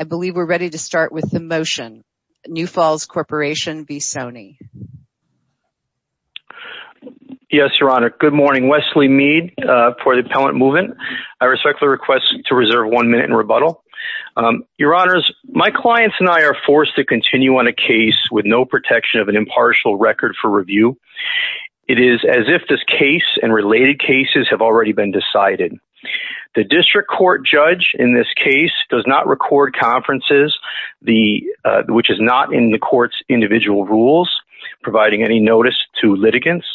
I believe we're ready to start with the motion. New Falls Corporation v. Soni. Yes, Your Honor. Good morning. Wesley Mead for the Appellant Movement. I respectfully request to reserve one minute in rebuttal. Your Honors, my clients and I are forced to continue on a case with no protection of an impartial record for review. It is as if this case and related cases have already been decided. The district court judge in this case does not record conferences which is not in the court's individual rules providing any notice to litigants.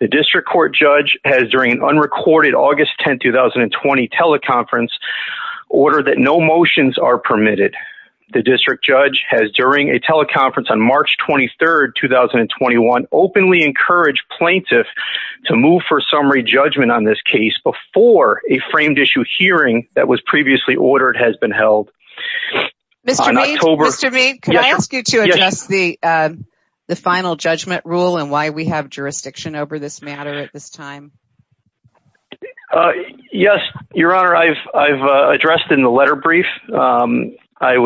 The district court judge has during an unrecorded August 10, 2020 teleconference ordered that no motions are permitted. The district judge has during a teleconference on March 23, 2021 openly encouraged plaintiffs to move for summary judgment on this case before a framed-issue hearing that was previously ordered has been held. Mr. Mead, can I ask you to address the final judgment rule and why we have jurisdiction over this matter at this time? Yes, Your Honor. I've addressed in the letter brief. I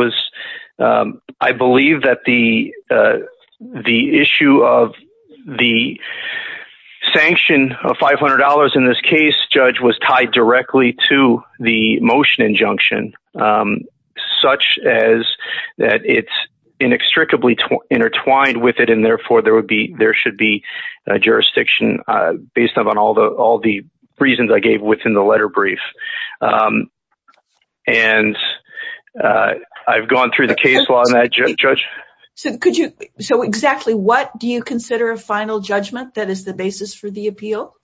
believe that the issue of the sanction of $500 in this case, Judge, was tied directly to the motion injunction such as that it's inextricably intertwined with it and therefore there would be there should be a jurisdiction based on all the reasons I gave within the letter brief. I've gone through the case law on that, Judge. So, exactly what do the appeal?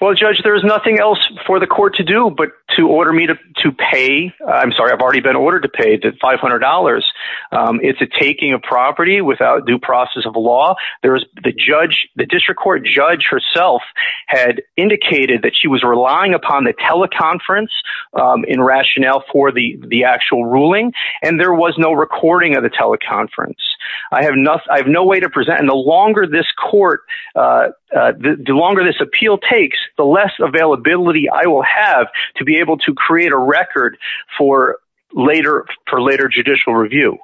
Well, Judge, there's nothing else for the court to do but to order me to pay. I'm sorry, I've already been ordered to pay $500. It's a taking of property without due process of law. There's the judge, the district court judge herself had indicated that she was relying upon the teleconference in rationale for the the actual ruling and there was no recording of the teleconference. I have no way to present and the longer this court the longer this appeal takes the less availability I will have to be able to create a record for later for later judicial review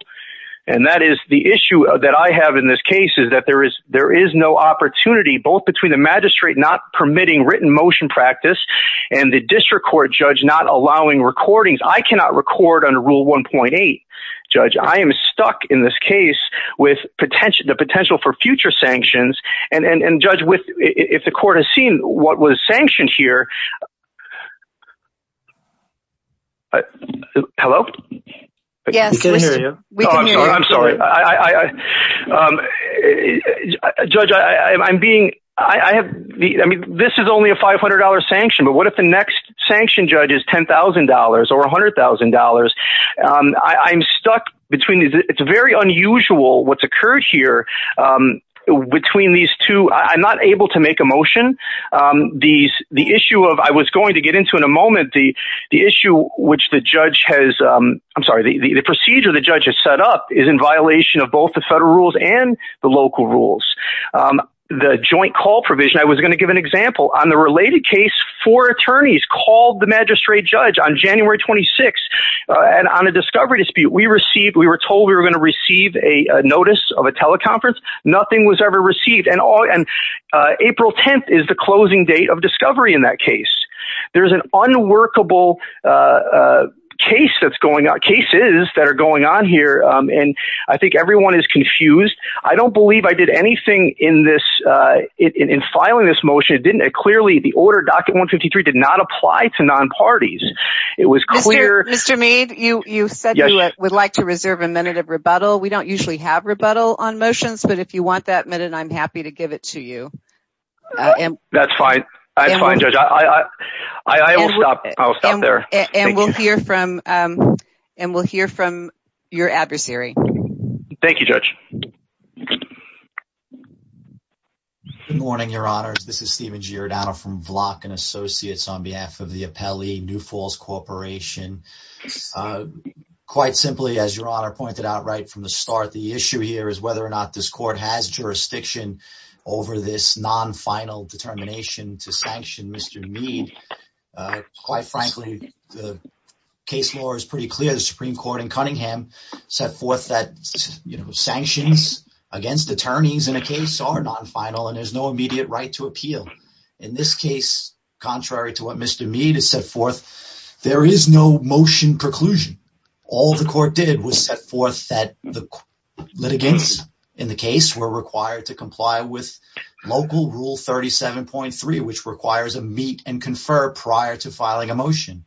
and that is the issue that I have in this case is that there is there is no opportunity both between the magistrate not permitting written motion practice and the district court judge not allowing recordings. I cannot record under Rule 1.8, Judge. I am stuck in this case with potential the potential for future sanctions and and and judge with if the court has seen what was sanctioned here. Hello? Yes. I'm sorry. I judge I'm being I have I mean this is only a $500 sanction but what if the next sanction judge is $10,000 or $100,000? I'm stuck between these it's very unusual what's occurred here between these two I'm not able to make a motion these the issue of I was going to get into in a moment the the issue which the judge has I'm sorry the procedure the judge has set up is in violation of both the federal rules and the local rules. The joint call provision I was going to give an example on the related case for attorneys called the magistrate judge on January 26 and on a discovery dispute we received we were told we were going to receive a notice of a teleconference nothing was ever received and all and April 10th is the closing date of discovery in that case there's an unworkable case that's going on cases that are going on here and I think everyone is confused I don't believe I did anything in this in filing this motion it didn't it clearly the order docket 153 did not apply to non-parties it was clear mr. mead you you said yes I would like to reserve a minute of rebuttal we don't usually have rebuttal on motions but if you want that minute I'm happy to give it to you and that's fine I'll stop I'll stop there and we'll hear from and we'll hear from your adversary thank you judge morning your honors this is Steven Giordano from block and associates on corporation quite simply as your honor pointed out right from the start the issue here is whether or not this court has jurisdiction over this non-final determination to sanction mr. mead quite frankly the case law is pretty clear the Supreme Court in Cunningham set forth that you know sanctions against attorneys in a case are non-final and there's no immediate right to appeal in this case contrary to what mr. mead is set forth there is no motion preclusion all the court did was set forth that the litigants in the case were required to comply with local rule 37.3 which requires a meet and confer prior to filing a motion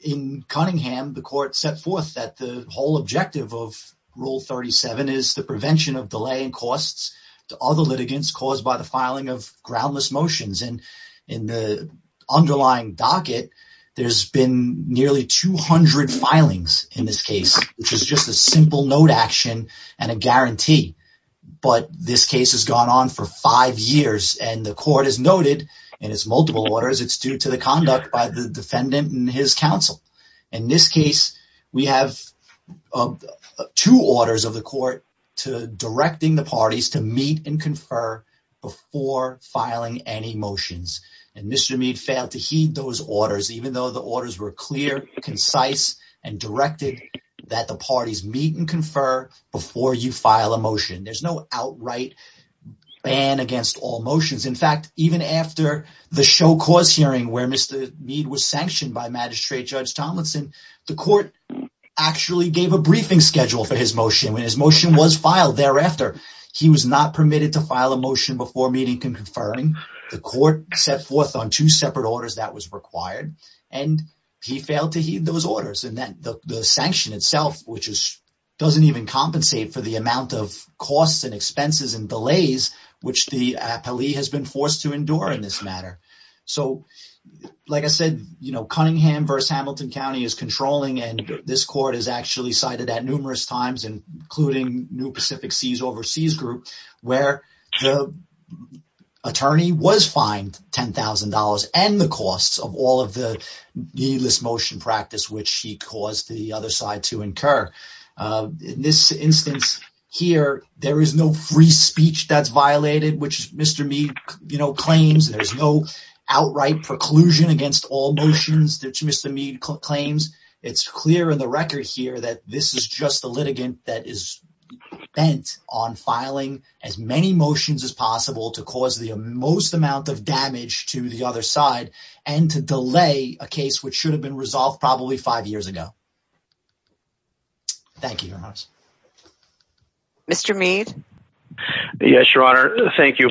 in Cunningham the court set forth that the whole objective of rule 37 is the prevention of delaying costs to other litigants caused by the motions and in the underlying docket there's been nearly 200 filings in this case which is just a simple note action and a guarantee but this case has gone on for five years and the court is noted and it's multiple orders it's due to the conduct by the defendant and his counsel in this case we have two orders of the motions and mr. mead failed to heed those orders even though the orders were clear concise and directed that the parties meet and confer before you file a motion there's no outright ban against all motions in fact even after the show cause hearing where mr. mead was sanctioned by magistrate judge Tomlinson the court actually gave a briefing schedule for his motion when his motion was filed thereafter he was not permitted to file a motion before meeting conferring the court set forth on two separate orders that was required and he failed to heed those orders and that the sanction itself which is doesn't even compensate for the amount of costs and expenses and delays which the appellee has been forced to endure in this matter so like I said you know Cunningham verse Hamilton County is controlling and this court is actually cited at numerous times including New Pacific Seas Overseas Group where the attorney was fined $10,000 and the costs of all of the needless motion practice which he caused the other side to incur in this instance here there is no free speech that's violated which mr. mead you know claims there's no outright preclusion against all motions that mr. mead claims it's clear in the record here that this is just the litigant that is bent on filing as many motions as possible to cause the most amount of damage to the other side and to delay a case which should have been resolved probably five years ago thank you mr. mead yes your honor thank you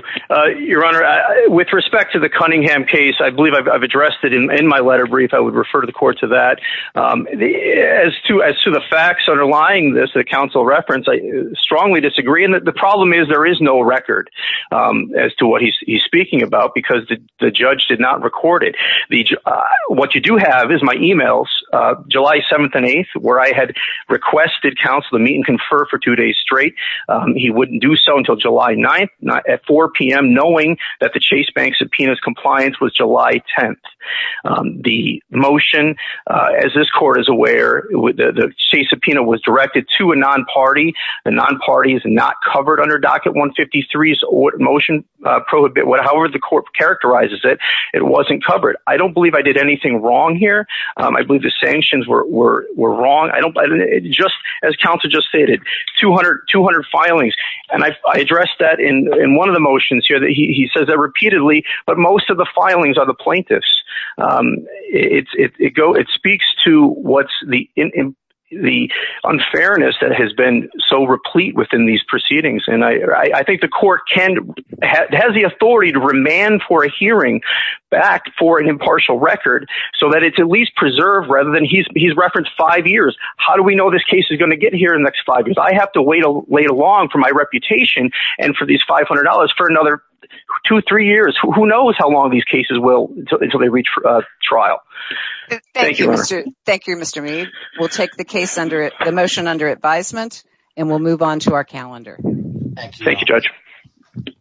your honor with respect to the Cunningham case I believe I've addressed it in my letter brief I would refer to the court to that the as to as to the facts underlying this the council reference I strongly disagree and that the problem is there is no record as to what he's speaking about because the judge did not record it the what you do have is my emails July 7th and 8th where I had requested counsel to meet and confer for two days straight he wouldn't do so until July 9th not at 4 p.m. knowing that the Chase Bank subpoenas compliance was July 10th the motion as this court is aware with the subpoena was directed to a non-party the non-party is not covered under docket 153 or motion prohibit what however the court characterizes it it wasn't covered I don't believe I did anything wrong here I believe the sanctions were wrong I don't buy it just as counsel just stated 200 200 filings and I addressed that in in one of the motions here that he says that repeatedly but most of the unfairness that has been so replete within these proceedings and I think the court can has the authority to remand for a hearing back for an impartial record so that it's at least preserved rather than he's referenced five years how do we know this case is going to get here in the next five years I have to wait a late along for my reputation and for these $500 for another two three years who knows how long these cases will until they reach trial thank you thank you mr. me we'll take the case under the motion under advisement and we'll move on to our calendar thank you judge